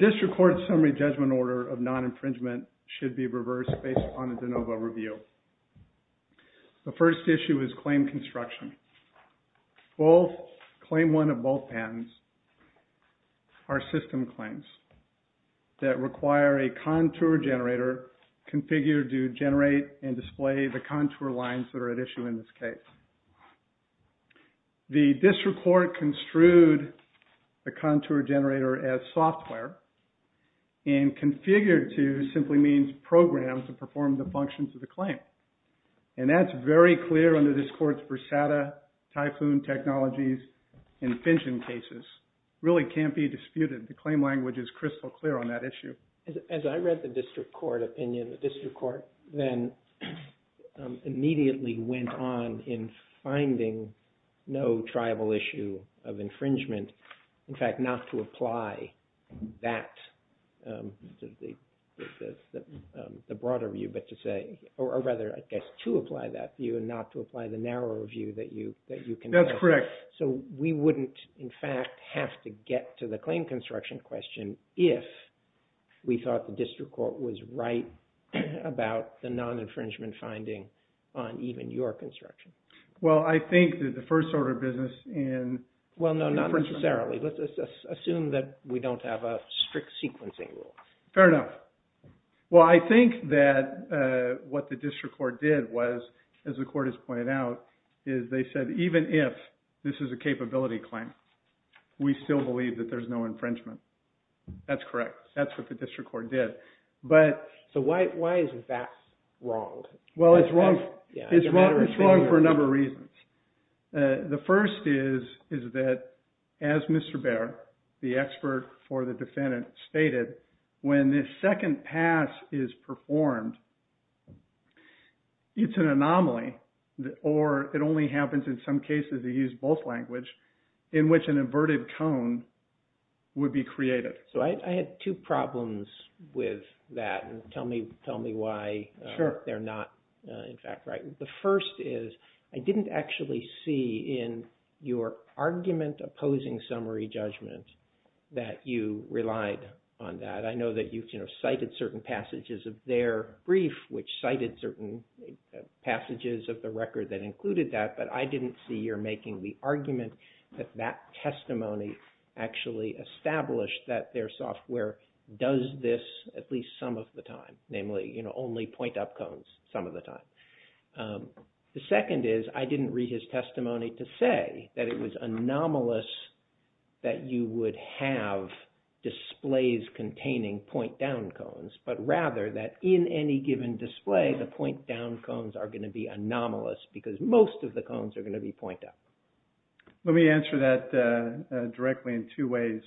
DISTRICT COURT SUMMARY JUDGEMENT ORDER OF NON-INFRINGEMENT SHOULD BE REVERSED BASED UPON A DENOVO REVIEW. CLAIM CONSTRUCTION. CLAIM ONE OF BOTH PATENTS ARE SYSTEM CLAIMS. DISTRICT COURT CONSTRUED THE CONTOUR GENERATOR AS SOFTWARE AND CONFIGURED TO SIMPLY MEANS PROGRAMMED TO PERFORM THE FUNCTIONS OF THE CLAIM. THAT IS VERY CLEAR UNDER THIS COURT'S BRUSADA, TYPHOON TECHNOLOGIES, AND FINCHEN CASES. DISTRICT COURT THEN IMMEDIATELY WENT ON IN FINDING NO TRIBAL ISSUE OF INFRINGEMENT. IN FACT, NOT TO APPLY THAT, THE BROADER VIEW, BUT TO SAY, OR RATHER, I GUESS, TO APPLY THAT VIEW AND NOT TO APPLY THE NARROWER VIEW THAT YOU CONFER. SO WE WOULDN'T, IN FACT, HAVE TO GET TO THE CLAIM CONSTRUCTION QUESTION IF WE THOUGHT THE DISTRICT COURT WAS RIGHT ABOUT THE NON-INFRINGEMENT FINDING ON EVEN YOUR CONSTRUCTION. WELL, I THINK THAT THE FIRST ORDER OF BUSINESS IN... WELL, NO, NOT NECESSARILY. ASSUME THAT WE DON'T HAVE A STRICT SEQUENCING RULE. FAIR ENOUGH. WELL, I THINK THAT WHAT THE DISTRICT COURT DID WAS, AS THE COURT HAS POINTED OUT, IS THEY SAID EVEN IF THIS IS A CAPABILITY CLAIM, WE STILL BELIEVE THAT THERE'S NO INFRINGEMENT. THAT'S CORRECT. THAT'S WHAT THE DISTRICT COURT DID. SO WHY IS THAT WRONG? WELL, IT'S WRONG. IT'S WRONG FOR A NUMBER OF REASONS. THE FIRST IS THAT, AS MR. BEHR, THE EXPERT FOR THE DEFENDANT, STATED, WHEN THIS SECOND PASS IS PERFORMED, IT'S AN ANOMALY, OR IT ONLY HAPPENS IN SOME CASES TO USE BOTH LANGUAGE, IN WHICH AN INVERTED CONE WOULD BE CREATED. SO I HAD TWO PROBLEMS WITH THAT, AND TELL ME WHY THEY'RE NOT, IN FACT, RIGHT. THE FIRST IS, I DIDN'T ACTUALLY SEE IN YOUR ARGUMENT OPPOSING SUMMARY JUDGMENT THAT YOU RELIED ON THAT. I KNOW THAT YOU CITED CERTAIN PASSAGES OF THEIR BRIEF, WHICH CITED CERTAIN PASSAGES OF THE RECORD THAT INCLUDED THAT, BUT I DIDN'T SEE YOUR MAKING THE ARGUMENT THAT THAT TESTIMONY ACTUALLY ESTABLISHED THAT THEIR SOFTWARE DOES THIS AT LEAST SOME OF THE TIME, NAMELY ONLY POINT-UP CONES SOME OF THE TIME. THE SECOND IS, I DIDN'T READ HIS TESTIMONY TO SAY THAT IT WAS ANOMALOUS THAT YOU WOULD HAVE DISPLAYS CONTAINING POINT-DOWN CONES, BUT RATHER THAT IN ANY GIVEN DISPLAY, THE POINT-DOWN CONES ARE GOING TO BE ANOMALOUS BECAUSE MOST OF THE CONES ARE GOING TO BE POINT-UP. Let me answer that directly in two ways.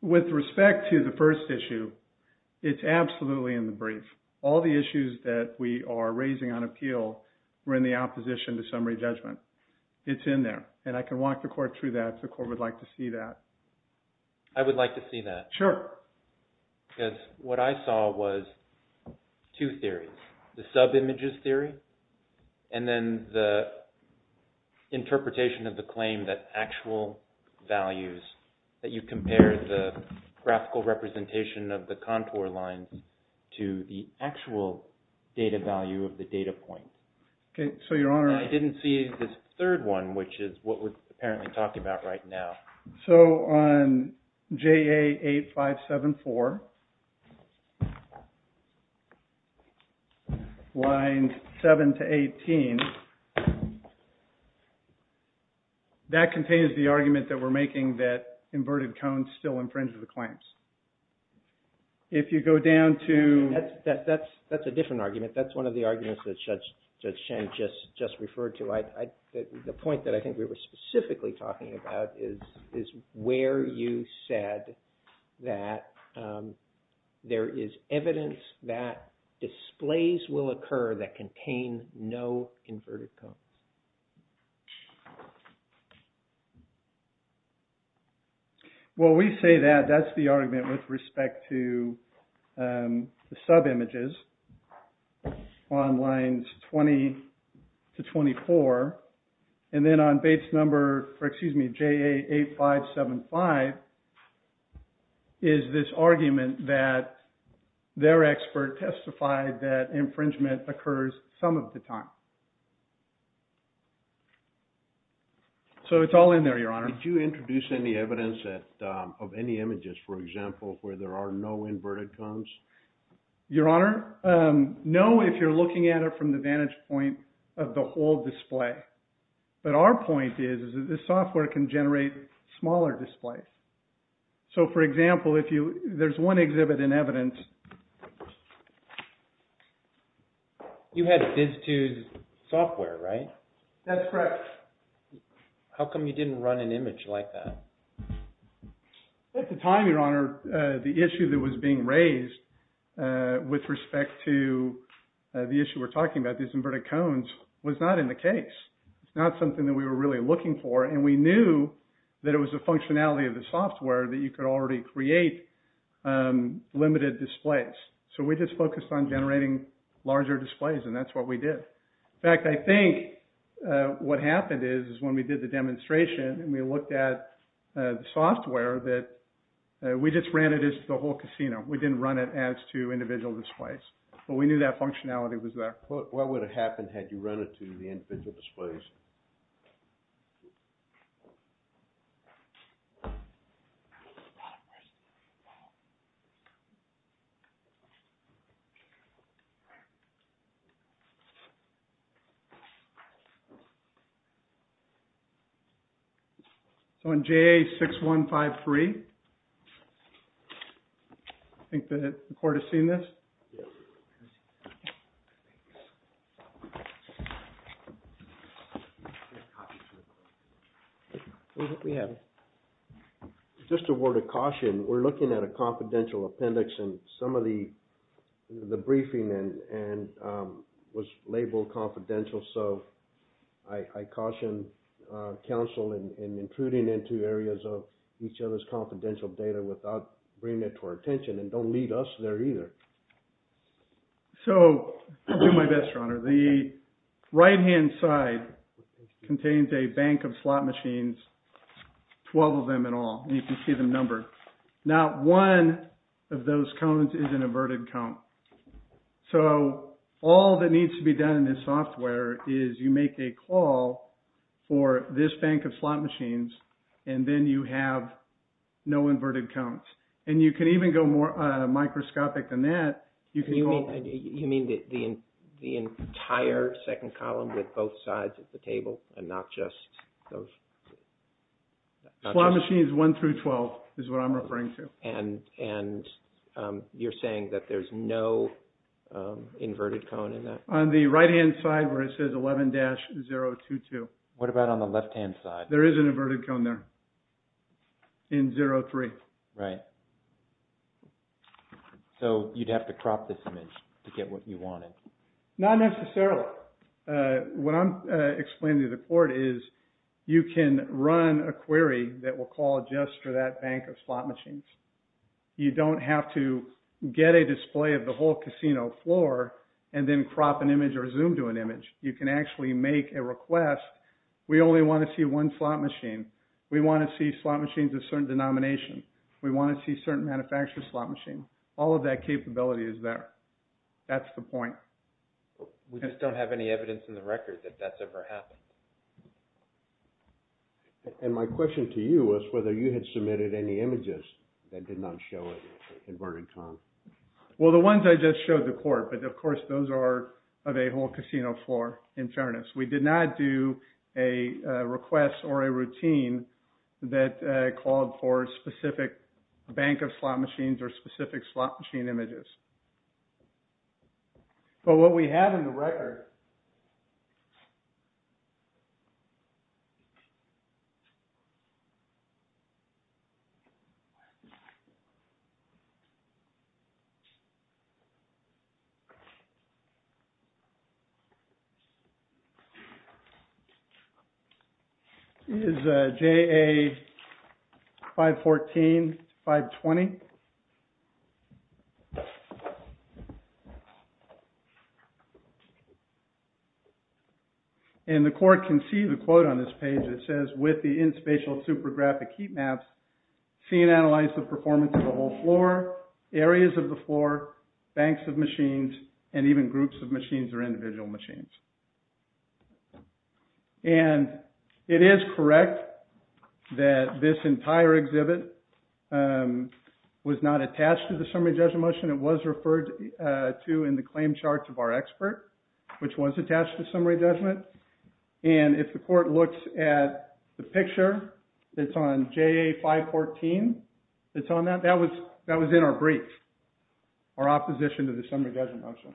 With respect to the first issue, it's absolutely in the brief. All the issues that we are raising on appeal were in the opposition to summary judgment. It's in there, and I can walk the court through that if the court would like to see that. I would like to see that. Sure. Because what I saw was two theories. The sub-images theory, and then the interpretation of the claim that actual values, that you compare the graphical representation of the contour lines to the actual data value of the data point. Okay. So, Your Honor. And I didn't see this third one, which is what we're apparently talking about right now. So, on JA 8574, lines 7 to 18, that contains the argument that we're making that inverted cones still infringe the claims. If you go down to... That's a different argument. That's one of the arguments that Judge Schenck just referred to. The point that I think we were specifically talking about is where you said that there is evidence that displays will occur that contain no inverted cones. Well, we say that that's the argument with respect to the sub-images on lines 20 to 24. And then on base number, or excuse me, JA 8575 is this argument that their expert testified that infringement occurs some of the time. So, it's all in there, Your Honor. Did you introduce any evidence of any images, for example, where there are no inverted cones? Your Honor, no, if you're looking at it from the vantage point of the whole display. But our point is that the software can generate smaller displays. So, for example, if there's one exhibit in evidence... You had Viz2's software, right? That's correct. How come you didn't run an image like that? At the time, Your Honor, the issue that was being raised with respect to the issue we're talking about, these inverted cones, was not in the case. It's not something that we were really looking for. And we knew that it was the functionality of the software that you could already create limited displays. So, we just focused on generating larger displays, and that's what we did. In fact, I think what happened is, when we did the demonstration and we looked at the software, that we just ran it as the whole casino. We didn't run it as to individual displays. But we knew that functionality was there. What would have happened had you run it to the individual displays? So, on JA6153, I think the court has seen this. Yes. What do we have? Just a word of caution. We're looking at a confidential appendix, and some of the briefing was labeled confidential. So, I caution counsel in intruding into areas of each other's confidential data without bringing it to our attention. And don't lead us there either. The right-hand side contains a bank of slot machines, 12 of them in all. And you can see them numbered. Not one of those cones is an inverted cone. So, all that needs to be done in this software is you make a call for this bank of slot machines, and then you have no inverted cones. And you can even go more microscopic than that. You mean the entire second column with both sides of the table and not just those? Slot machines 1 through 12 is what I'm referring to. And you're saying that there's no inverted cone in that? On the right-hand side where it says 11-022. What about on the left-hand side? There is an inverted cone there in 03. Right. So, you'd have to crop this image to get what you wanted? Not necessarily. What I'm explaining to the court is you can run a query that will call just for that bank of slot machines. You don't have to get a display of the whole casino floor and then crop an image or zoom to an image. You can actually make a request. We only want to see one slot machine. We want to see slot machines of certain denomination. We want to see certain manufacturer slot machine. All of that capability is there. That's the point. We just don't have any evidence in the record that that's ever happened. And my question to you was whether you had submitted any images that did not show an inverted cone. Well, the ones I just showed the court, but of course those are of a whole casino floor in fairness. We did not do a request or a routine that called for a specific bank of slot machines or specific slot machine images. But what we have in the record... is JA 514, 520. And the court can see the quote on this page that says, with the in-spatial supergraphic heat maps, see and analyze the performance of the whole floor, areas of the floor, banks of machines, and even groups of machines or individual machines. And it is correct that this entire exhibit was not attached to the summary judgment motion. It was referred to in the claim charts of our expert, which was attached to summary judgment. And if the court looks at the picture, it's on JA 514. It's on that. That was in our brief, our opposition to the summary judgment motion.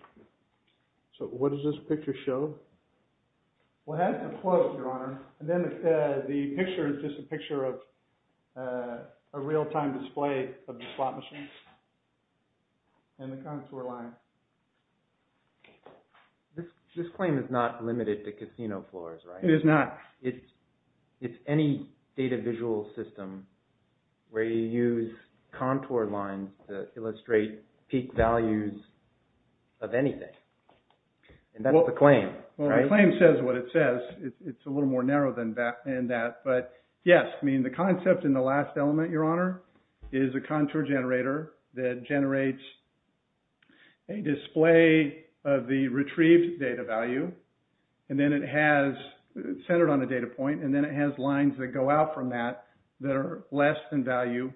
So what does this picture show? Well, it has a quote, Your Honor. And then the picture is just a picture of a real-time display of the slot machines and the contour lines. This claim is not limited to casino floors, right? It is not. It's any data visual system where you use contour lines to illustrate peak values of anything. And that's the claim, right? Well, the claim says what it says. It's a little more narrow than that. But yes, I mean, the concept in the last element, Your Honor, is a contour generator that generates a display of the retrieved data value. And then it has centered on a data point. And then it has lines that go out from that that are less than value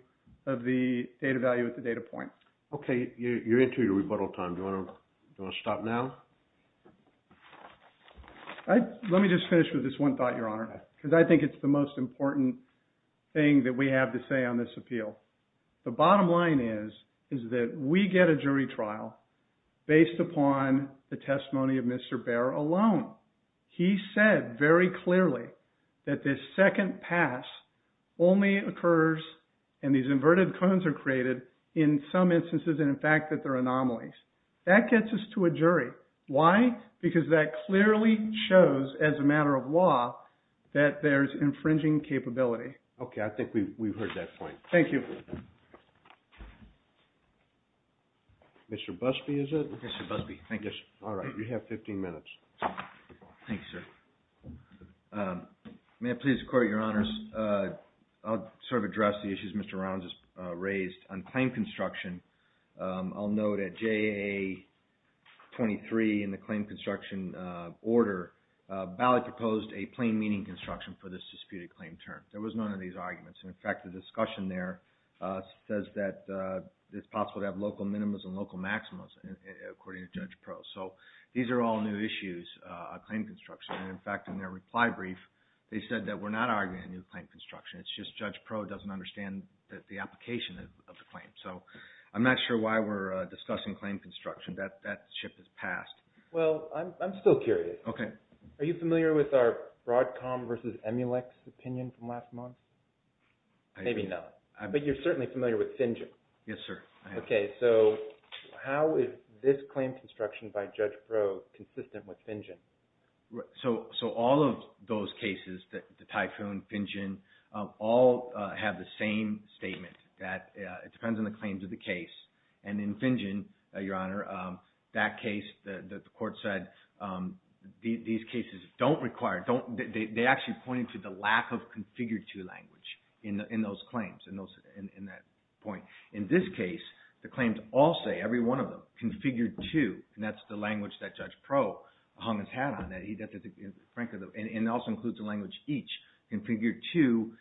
of the data value at the data point. Okay, you're into your rebuttal time. Do you want to stop now? Let me just finish with this one thought, Your Honor, because I think it's the most important thing that we have to say on this appeal. The bottom line is that we get a jury trial based upon the testimony of Mr. Baer alone. He said very clearly that this second pass only occurs, and these inverted cones are created in some instances, and in fact that they're anomalies. That gets us to a jury. Why? Because that clearly shows, as a matter of law, that there's infringing capability. Okay, I think we've heard that point. Thank you. Mr. Busby, is it? Mr. Busby, thank you. All right, you have 15 minutes. Thanks, sir. May I please, the Court, Your Honors? I'll sort of address the issues Mr. Rounds has raised on claim construction. I'll note at JA-23 in the claim construction order, Ballot proposed a plain meaning construction for this disputed claim term. There was none of these arguments, and in fact, the discussion there says that it's possible to have local minimas and local maximas, according to Judge Pro. So these are all new issues on claim construction, and in fact, in their reply brief, they said that we're not arguing a new claim construction. So I'm not sure why we're discussing claim construction. That shift has passed. Well, I'm still curious. Okay. Are you familiar with our Broadcom versus Emulex opinion from last month? Maybe not. But you're certainly familiar with Finjen. Yes, sir. Okay, so how is this claim construction by Judge Pro consistent with Finjen? So all of those cases, the Typhoon, Finjen, all have the same statement. That it depends on the claims of the case, and in Finjen, Your Honor, that case, the court said, these cases don't require, they actually pointed to the lack of configure-to language in those claims, in that point. In this case, the claims all say, every one of them, configure-to, and that's the language that Judge Pro hung his hat on, and also includes the language each. Configure-to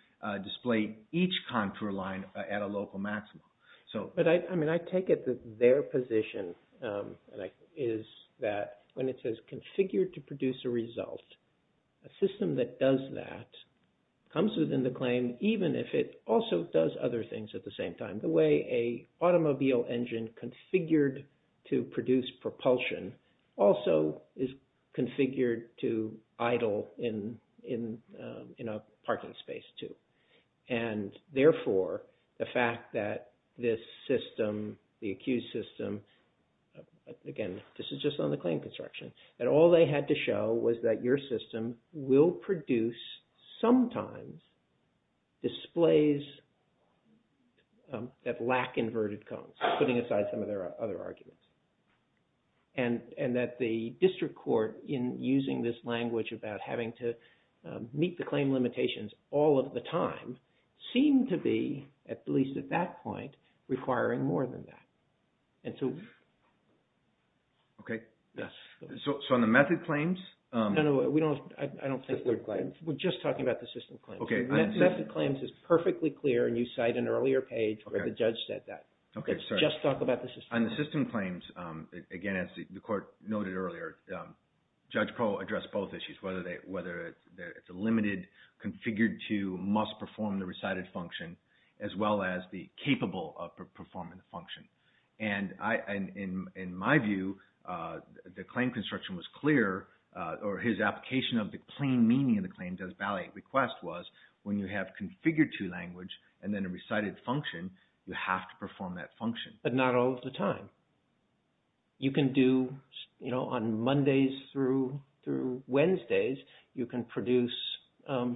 display each contour line at a local maximum. But I mean, I take it that their position is that when it says configure-to produce a result, a system that does that comes within the claim, even if it also does other things at the same time. The way a automobile engine configured to produce propulsion also is configured to idle in a parking space, too. And therefore, the fact that this system, the accused system, again, this is just on the claim construction, that all they had to show was that your system will produce, sometimes, displays that lack inverted cones, putting aside some of their other arguments. And that the district court, in using this language about having to meet the claim limitations all of the time, seemed to be, at least at that point, requiring more than that. And so... Okay. So on the method claims... No, no, I don't think they're claims. We're just talking about the system claims. Method claims is perfectly clear, and you cite an earlier page where the judge said that. Let's just talk about the system. On the system claims, again, as the court noted earlier, Judge Proe addressed both issues, whether it's a limited, configured to, must perform the recited function, as well as the capable of performing the function. And in my view, the claim construction was clear, or his application of the plain meaning of the claim does valet request was, when you have configured to language and then a recited function, you have to perform that function. But not all of the time. You can do, you know, on Mondays through Wednesdays, you can produce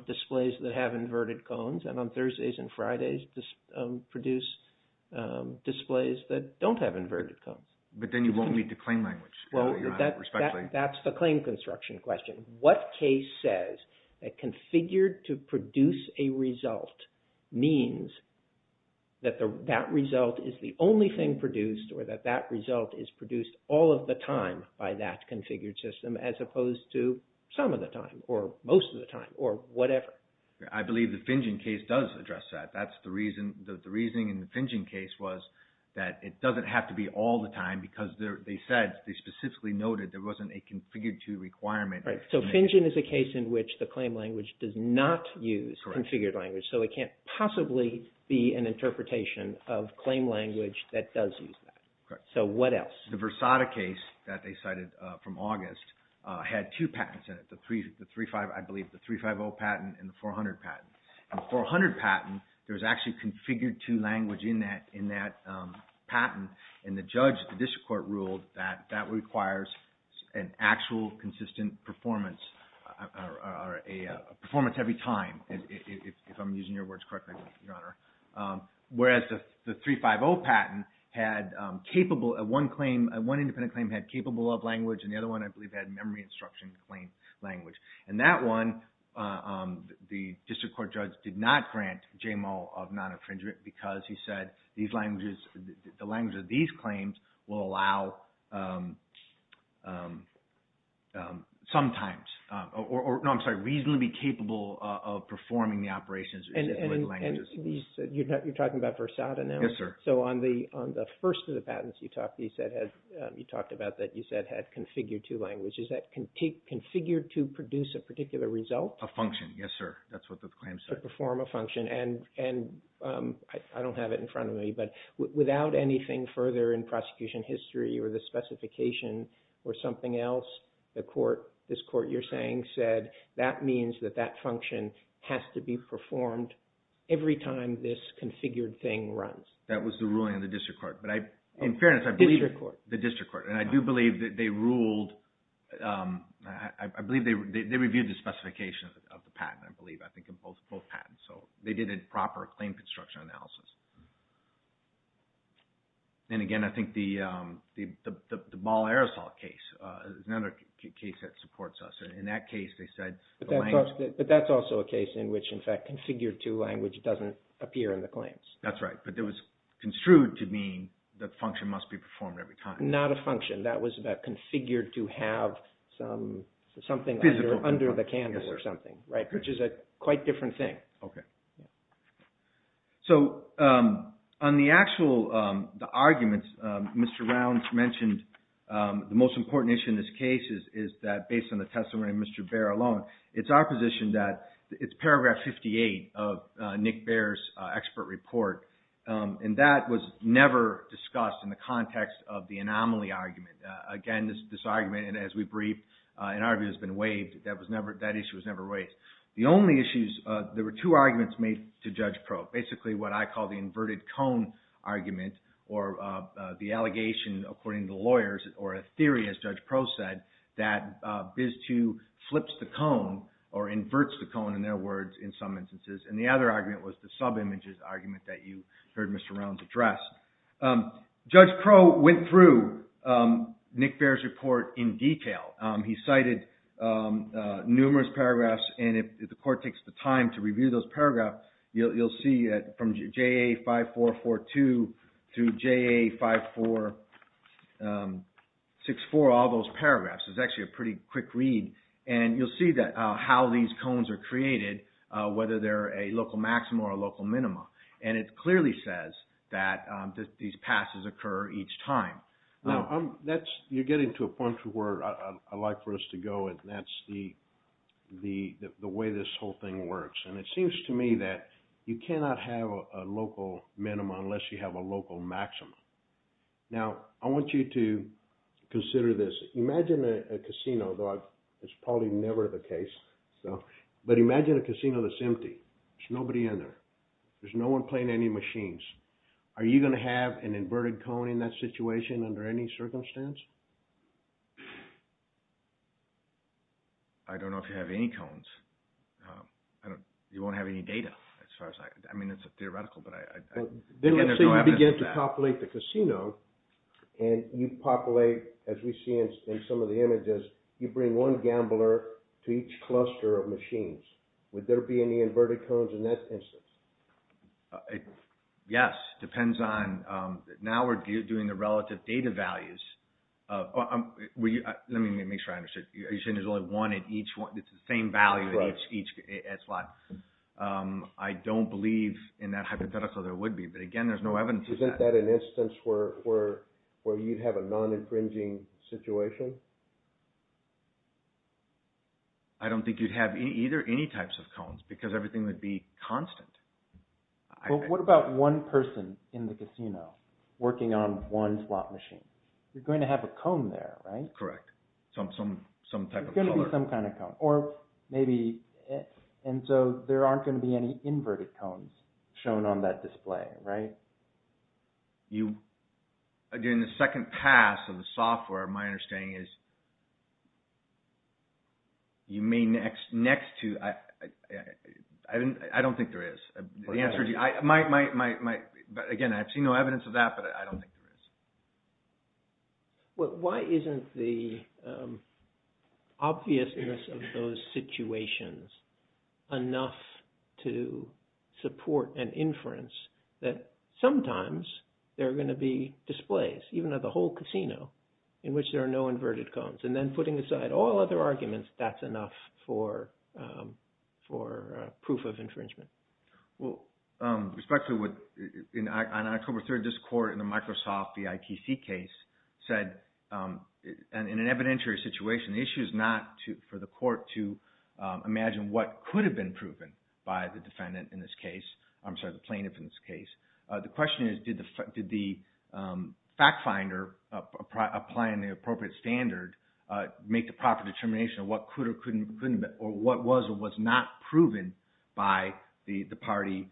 displays that have inverted cones, and on Thursdays and Fridays, produce displays that don't have inverted cones. But then you won't meet the claim language. That's the claim construction question. What case says that configured to produce a result means that that result is the only thing produced or that that result is produced all of the time by that configured system as opposed to some of the time or most of the time or whatever? I believe the Finjen case does address that. That's the reason. The reasoning in the Finjen case was that it doesn't have to be all the time because they said, they specifically noted there wasn't a configured to requirement. Right. So Finjen is a case in which the claim language does not use configured language. Correct. So it can't possibly be an interpretation of claim language that does use that. Correct. So what else? The Versada case that they cited from August had two patents in it. I believe the 350 patent and the 400 patent. In the 400 patent, there was actually configured to language in that patent, and the judge, the district court ruled that that requires an actual consistent performance or a performance every time, if I'm using your words correctly, Your Honor, whereas the 350 patent had capable, one claim, one independent claim had capable of language, and the other one, I believe, had memory instruction claim language. And that one, the district court judge did not grant JMO of non-infringement because he said these languages, the language of these claims will allow, sometimes, or no, I'm sorry, reasonably capable of performing the operations with languages. And you're talking about Versada now? Yes, sir. So on the first of the patents you talked, you talked about that you said had configured to language. Is that configured to produce a particular result? A function, yes, sir. That's what the claim said. To perform a function, and I don't have it in front of me, but without anything further in prosecution history or a specification or something else, the court, this court you're saying, said that means that that function has to be performed every time this configured thing runs. That was the ruling of the district court, but in fairness, I believe the district court, and I do believe that they ruled, I believe they reviewed the specification of the patent, I believe, I think in both patents, so they did a proper claim construction analysis. And again, I think the Ball-Aerosol case is another case that supports us. In that case, they said the language... But that's also a case in which, in fact, configured to language doesn't appear in the claims. That's right, but it was construed to mean the function must be performed every time. Not a function. That was about configured to have something under the canvas or something, right, which is a quite different thing. Okay. So, on the actual arguments, Mr. Rounds mentioned the most important issue in this case is that based on the testimony of Mr. Baer alone, it's our position that it's paragraph 58 of Nick Baer's expert report, and that was never discussed in the context of the anomaly argument. Again, this argument, and as we briefed, in our view, has been waived. That issue was never raised. So, here are the arguments made to Judge Crow. Basically, what I call the inverted cone argument or the allegation, according to lawyers, or a theory, as Judge Crow said, that BIS II flips the cone or inverts the cone, in their words, in some instances. And the other argument was the sub-images argument that you heard Mr. Rounds address. Judge Crow went through Nick Baer's report in detail. He cited numerous paragraphs, and if the court takes the time to look at it, you'll see from JA 5442 through JA 5464, all those paragraphs. It's actually a pretty quick read, and you'll see how these cones are created, whether they're a local maxim or a local minima. And it clearly says that these passes occur each time. Now, you're getting to a point to where I'd like for us to go, and that's the way this whole thing works. That you cannot have a local minima unless you have a local maxima. Now, I want you to consider this. Imagine a casino, though it's probably never the case, but imagine a casino that's empty. There's nobody in there. There's no one playing any machines. Are you going to have an inverted cone in that situation under any circumstance? I don't know if you have any cones. You won't have any data. I mean, it's theoretical, but I... Then let's say you begin to populate the casino, and you populate, as we see in some of the images, you bring one gambler to each cluster of machines. Would there be any inverted cones in that instance? Yes, depends on... Now we're doing the relative data values. Let me make sure I understand. Are you saying there's only one at each one? It's the same value at each slot. I don't believe in that hypothetical there would be, but again, there's no evidence of that. Isn't that an instance where you'd have a non-infringing situation? I don't think you'd have either, any types of cones, because everything would be constant. Well, what about one person in the casino working on one slot machine? You're going to have a cone there, right? Correct. Some type of cone. There's going to be some kind of cone, or maybe... And so there aren't going to be any inverted cones shown on that display, right? During the second pass of the software, my understanding is you may next to... I don't think there is. Again, I've seen no evidence of that, but I don't think there is. Why isn't the obviousness of those situations enough to support an inference that sometimes there are going to be displays, even at the whole casino, in which there are no inverted cones, and then putting aside all other arguments, that's enough for proof of infringement? Respectfully, on October 3rd, this court in the Microsoft VIPC case said, in this particular situation, the issue is not for the court to imagine what could have been proven by the defendant in this case, I'm sorry, the plaintiff in this case. The question is, did the fact finder applying the appropriate standard make the proper determination of what could or couldn't or what was or was not proven by the party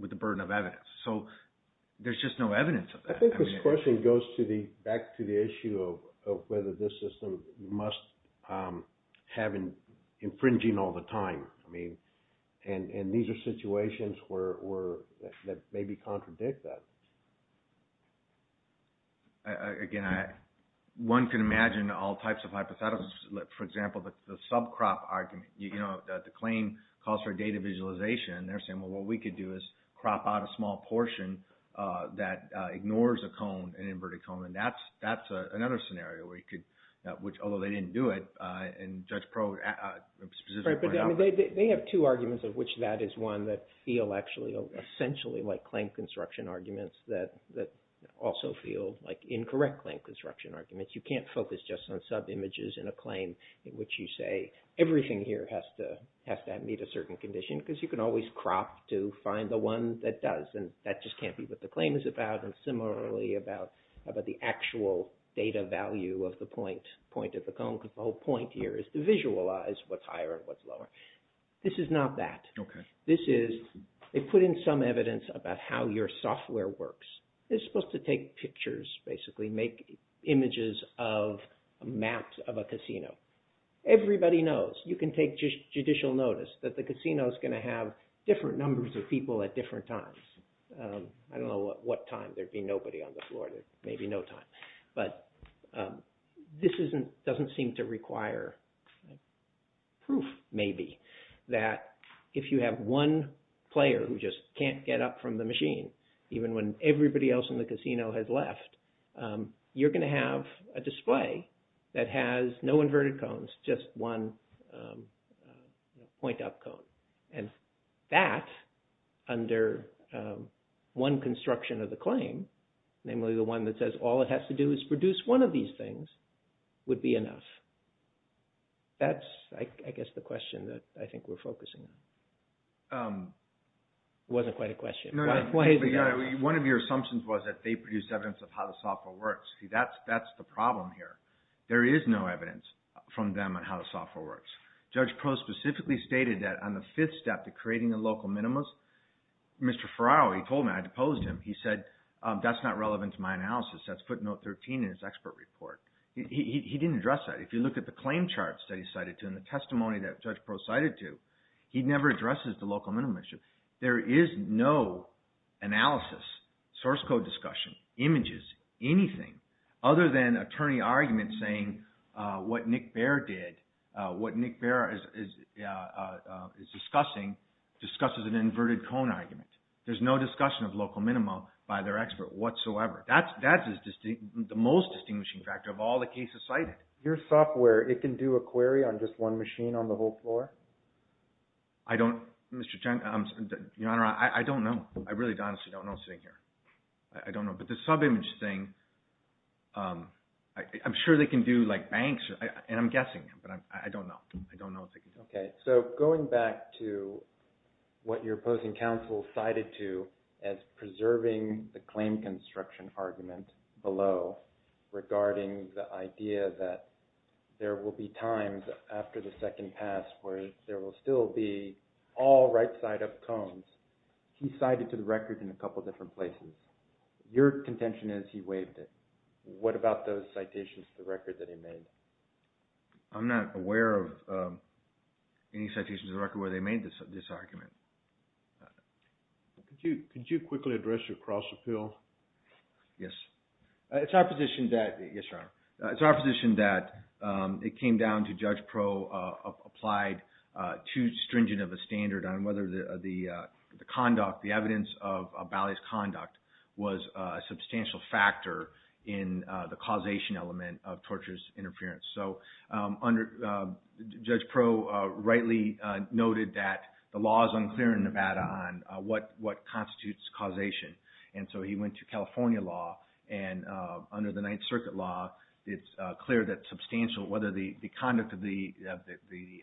with the burden of evidence? So there's just no evidence of that. I think this question goes to the question of whether this system must have infringing all the time. I mean, and these are situations that maybe contradict that. Again, one can imagine all types of hypotheticals. For example, the subcrop argument, the claim calls for data visualization, and they're saying, well, what we could do is crop out a small portion of the data, which, although they didn't do it, and Judge Probe specifically pointed out. Right, but they have two arguments of which that is one that feel actually essentially like claim construction arguments that also feel like incorrect claim construction arguments. You can't focus just on subimages in a claim in which you say everything here has to meet a certain condition because you can always crop to find the one that does, and that just can't be what the claim is about, and similarly about the actual data value of the point of the cone because the whole point here is to visualize what's higher and what's lower. This is not that. Okay. This is, they put in some evidence about how your software works. It's supposed to take pictures, basically make images of maps of a casino. Everybody knows. You can take judicial notice that the casino is going to have different numbers of people at different times. I don't know at what time there'd be nobody on the floor. There may be no time, but this doesn't seem to require proof maybe that if you have one player who just can't get up from the machine even when everybody else in the casino has left, you're going to have a display that has no inverted cones, just one point up cone, and that under one construction of the claim, namely the one that says all it has to do is produce one of these things, would be enough. That's, I guess, the question that I think we're focusing on. It wasn't quite a question. One of your assumptions was that they produced evidence of how the software works. See, that's the problem here. There is no evidence from them on how the software works. Judge Proh specifically stated that on the fifth step to creating a local minimus, Mr. Ferraro, he told me, I deposed him, he said, that's not relevant to my analysis. That's footnote 13 in his expert report. He didn't address that. If you look at the claim charts that he cited to and the testimony that Judge Proh cited to, he never addresses the local minimum issue. There is no analysis, source code discussion, images, anything, other than attorney arguments saying what Nick Baer did, what Nick Baer is discussing, discusses an inverted cone argument. There's no discussion of local minima by their expert whatsoever. That's the most distinguishing factor of all the cases cited. Your software, it can do a query on just one machine on the whole floor? I don't, Mr. Chen, Your Honor, I don't know. I really honestly don't know sitting here. I don't know. But the subimage thing, I'm sure they can do like banks, and I'm guessing, but I don't know. I don't know what they can do. Okay. So going back to what your opposing counsel cited to as preserving the claim construction argument below regarding the idea that there will be times after the second pass where there will still be all right side up cones, he cited to the record in a couple different places. Your contention is he waived it. What about those citations to the record that he made? I'm not aware of any citations to the record where they made this argument. Could you quickly address your cross appeal? Yes. It's our position that Yes, Your Honor. It's our position that it came down to Judge Pro applied too stringent of a standard on whether the conduct, the evidence of Ballet's conduct was a substantial factor in the causation element of torturous interference. So, under Judge Pro rightly noted that the law is unclear in Nevada on what constitutes causation. And so he went to California law and under the Ninth Circuit law it's clear that substantial whether the conduct of the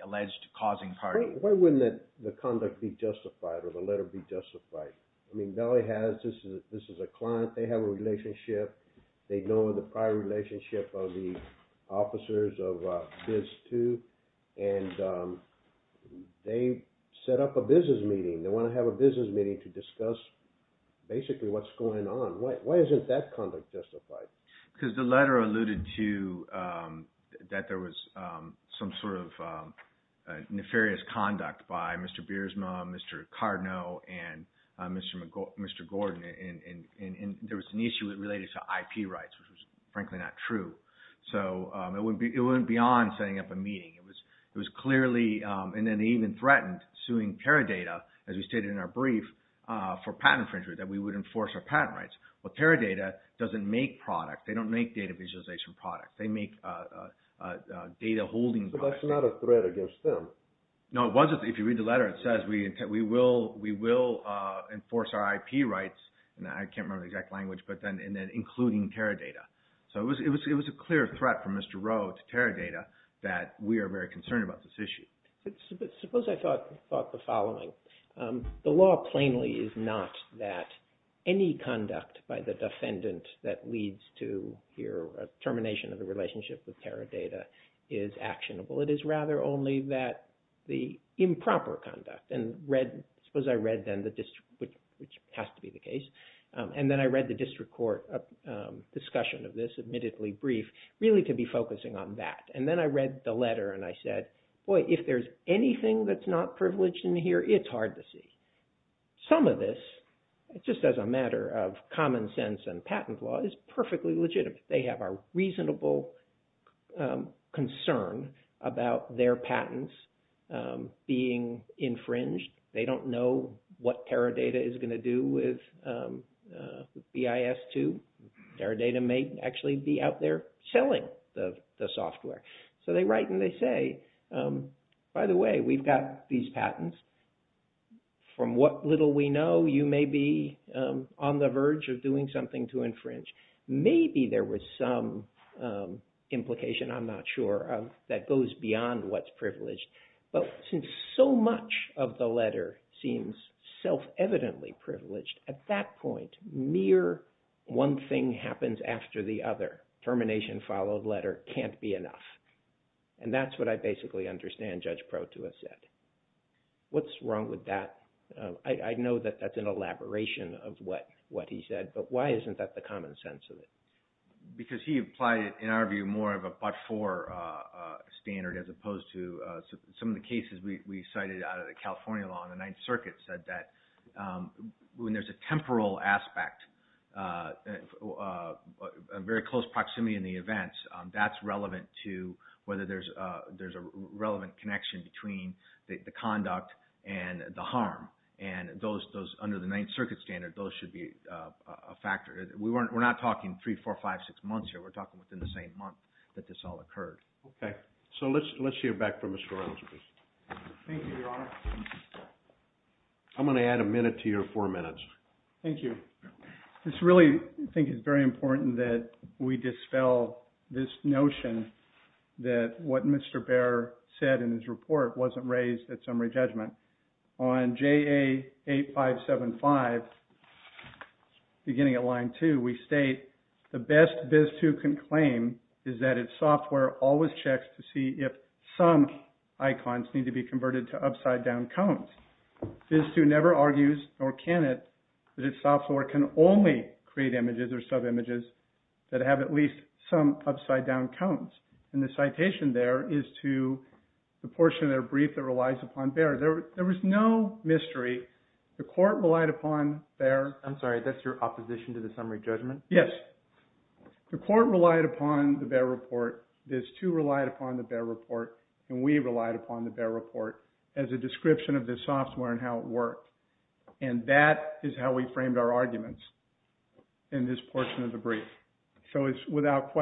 alleged causing part. Why wouldn't the conduct be justified or the letter be justified? I mean, Ballet has, this is a client, they have a relationship, they know the prior relationship of the officers of Biz 2 and they set up a business meeting. They want to have a business meeting to discuss basically what's going on. Why isn't that conduct justified? Because the letter alluded to that there was some sort of nefarious conduct by Mr. Biersma, Mr. Cardinal, and Mr. Gordon and there was an issue related to IP rights which was frankly not true. So it went beyond setting up a meeting. It was clearly, and then they even threatened suing Teradata as we stated in our brief for patent infringement that we would enforce our patent rights. But Teradata doesn't make product. They don't make data visualization products. They make data holding products. But that's not a threat against them. No, it wasn't. If you read the letter it says we will enforce our IP rights and I can't remember the exact language but then including Teradata. So it was a clear threat from Mr. Rowe to Teradata that we are very concerned about this issue. Suppose I thought the following. The law plainly is not that any conduct by the defendant that leads to here termination of the relationship with Teradata is actionable. It is rather only that the improper conduct and read suppose I read then the district which has to be the case and then I read the district court discussion of this admittedly brief really to be focusing on that. And then I read the letter and I said boy if there's anything that's not privileged in here it's hard to see. Some of this just as a matter of common sense and patent law is perfectly legitimate. They have a reasonable concern about their patents being infringed. They don't know what Teradata is going to do with BIS2. Teradata may actually be out there selling the software. So they write and they say by the way we've got these patents from what little we know you may be on the verge of doing something to infringe. Maybe there was some implication I'm not sure of that goes beyond what's privileged. But since so much of the letter seems self-evidently privileged at that point mere one thing happens after the other termination followed letter can't be enough. And that's what I basically understand Judge Proto has said. What's wrong with that? I know that that's an elaboration of what he said but why isn't that the common sense of it? Because he applied it in our view more of a but-for standard as opposed to some of the cases we cited out of the California law on the Ninth Circuit said that when there's a temporal aspect very close proximity in the events that's relevant to whether there's a relevant connection between the conduct and the harm. And those under the Ninth Circuit standard those should be a factor. We're not talking three, four, five, six months here. We're talking within the same month that this all occurred. Okay. So let's hear back from Mr. Reynolds please. Thank you, Your Honor. I'm going to add a minute to your four minutes. Thank you. This really I think is very important that we dispel this notion that what Mr. Bair said in his report wasn't raised at summary judgment. On JA 8575 beginning at line two we state the best BIS 2 can claim is that its software always checks to see if some icons need to be converted to upside down cones. BIS 2 never argues nor can it that its software can only create images or sub-images that have at least some upside down cones. And the citation there is to the portion of their brief that relies upon Bair. There was no mystery. The court relied upon Bair. I'm sorry. That's your opposition to the summary judgment? Yes. The court relied upon the Bair report. BIS 2 relied upon the Bair report. And we relied upon the Bair report as a description of the software and how it worked. And that is how we framed our arguments in this portion of the case. The 400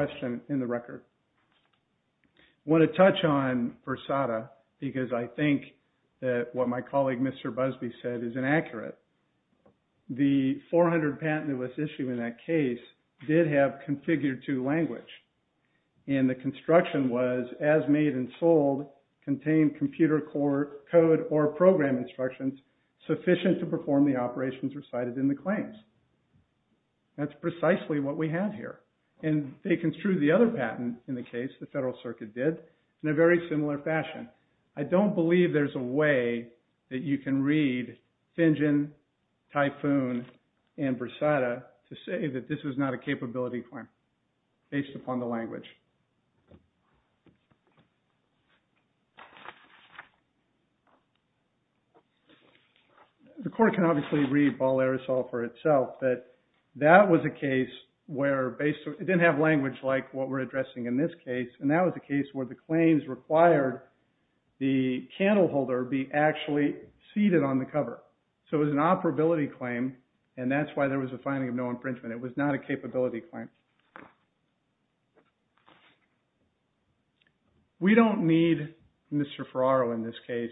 patent that was issued in that case did have configured to language. And the construction was as made and sold contained computer code or program instructions sufficient to perform the operations recited in the claims. That's precisely what we have here. And they construed the other patent in the case the Federal Circuit did in a very similar fashion. I don't believe there's a way that you can read Fingen, Typhoon, and Brasada to say that this was not a capability claim based upon the language. The court can obviously read Ball Aerosol for itself that that was a capability But they didn't have language like what we're addressing in this case. And that was a case where the claims required the candle holder be actually seated on the cover. So it was an operability claim and that's why there was a finding of no infringement. It was not a capability claim. We don't need Mr. Fingen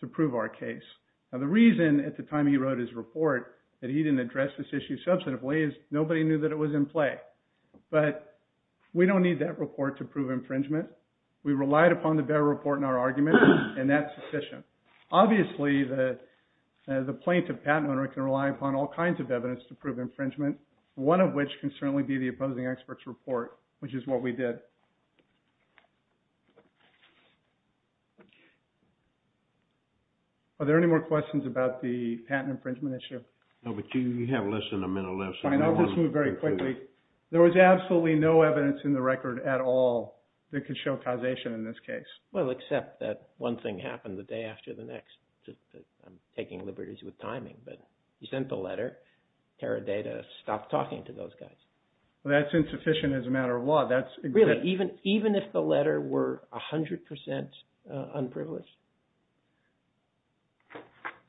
to prove infringement. We relied upon the bearer report in our argument and that's sufficient. Obviously, the plaintiff patent owner can rely upon all kinds of evidence to prove infringement, one of which can certainly be the opposing expert's report, which is what we did. Are there any more questions about the patent infringement issue? No, but you have less than a minute left. Fine, I'll just move very quickly. There was absolutely no evidence in the record at all that could show causation in this case. Well, except that one thing happened the day after the next. I'm taking liberties with you. Even if the letter were 100% unprivileged?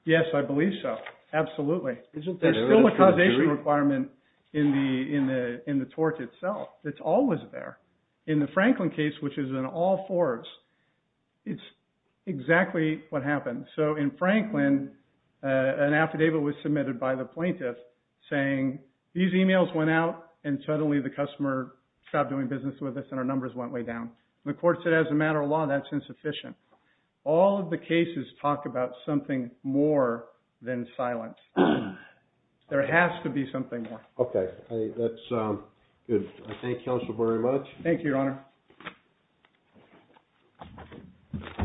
Yes, I believe so. Absolutely. There's still a causation requirement in the tort itself. It's always there. In the Franklin case, which is in all fours, it's exactly what happened. So in Franklin, an affidavit was submitted by the plaintiff saying, these numbers went way down. The court said, as a matter of law, that's insufficient. All of the cases talk about something more than silence. There has to be something more. Okay, that's good. I thank counsel very much. Thank you,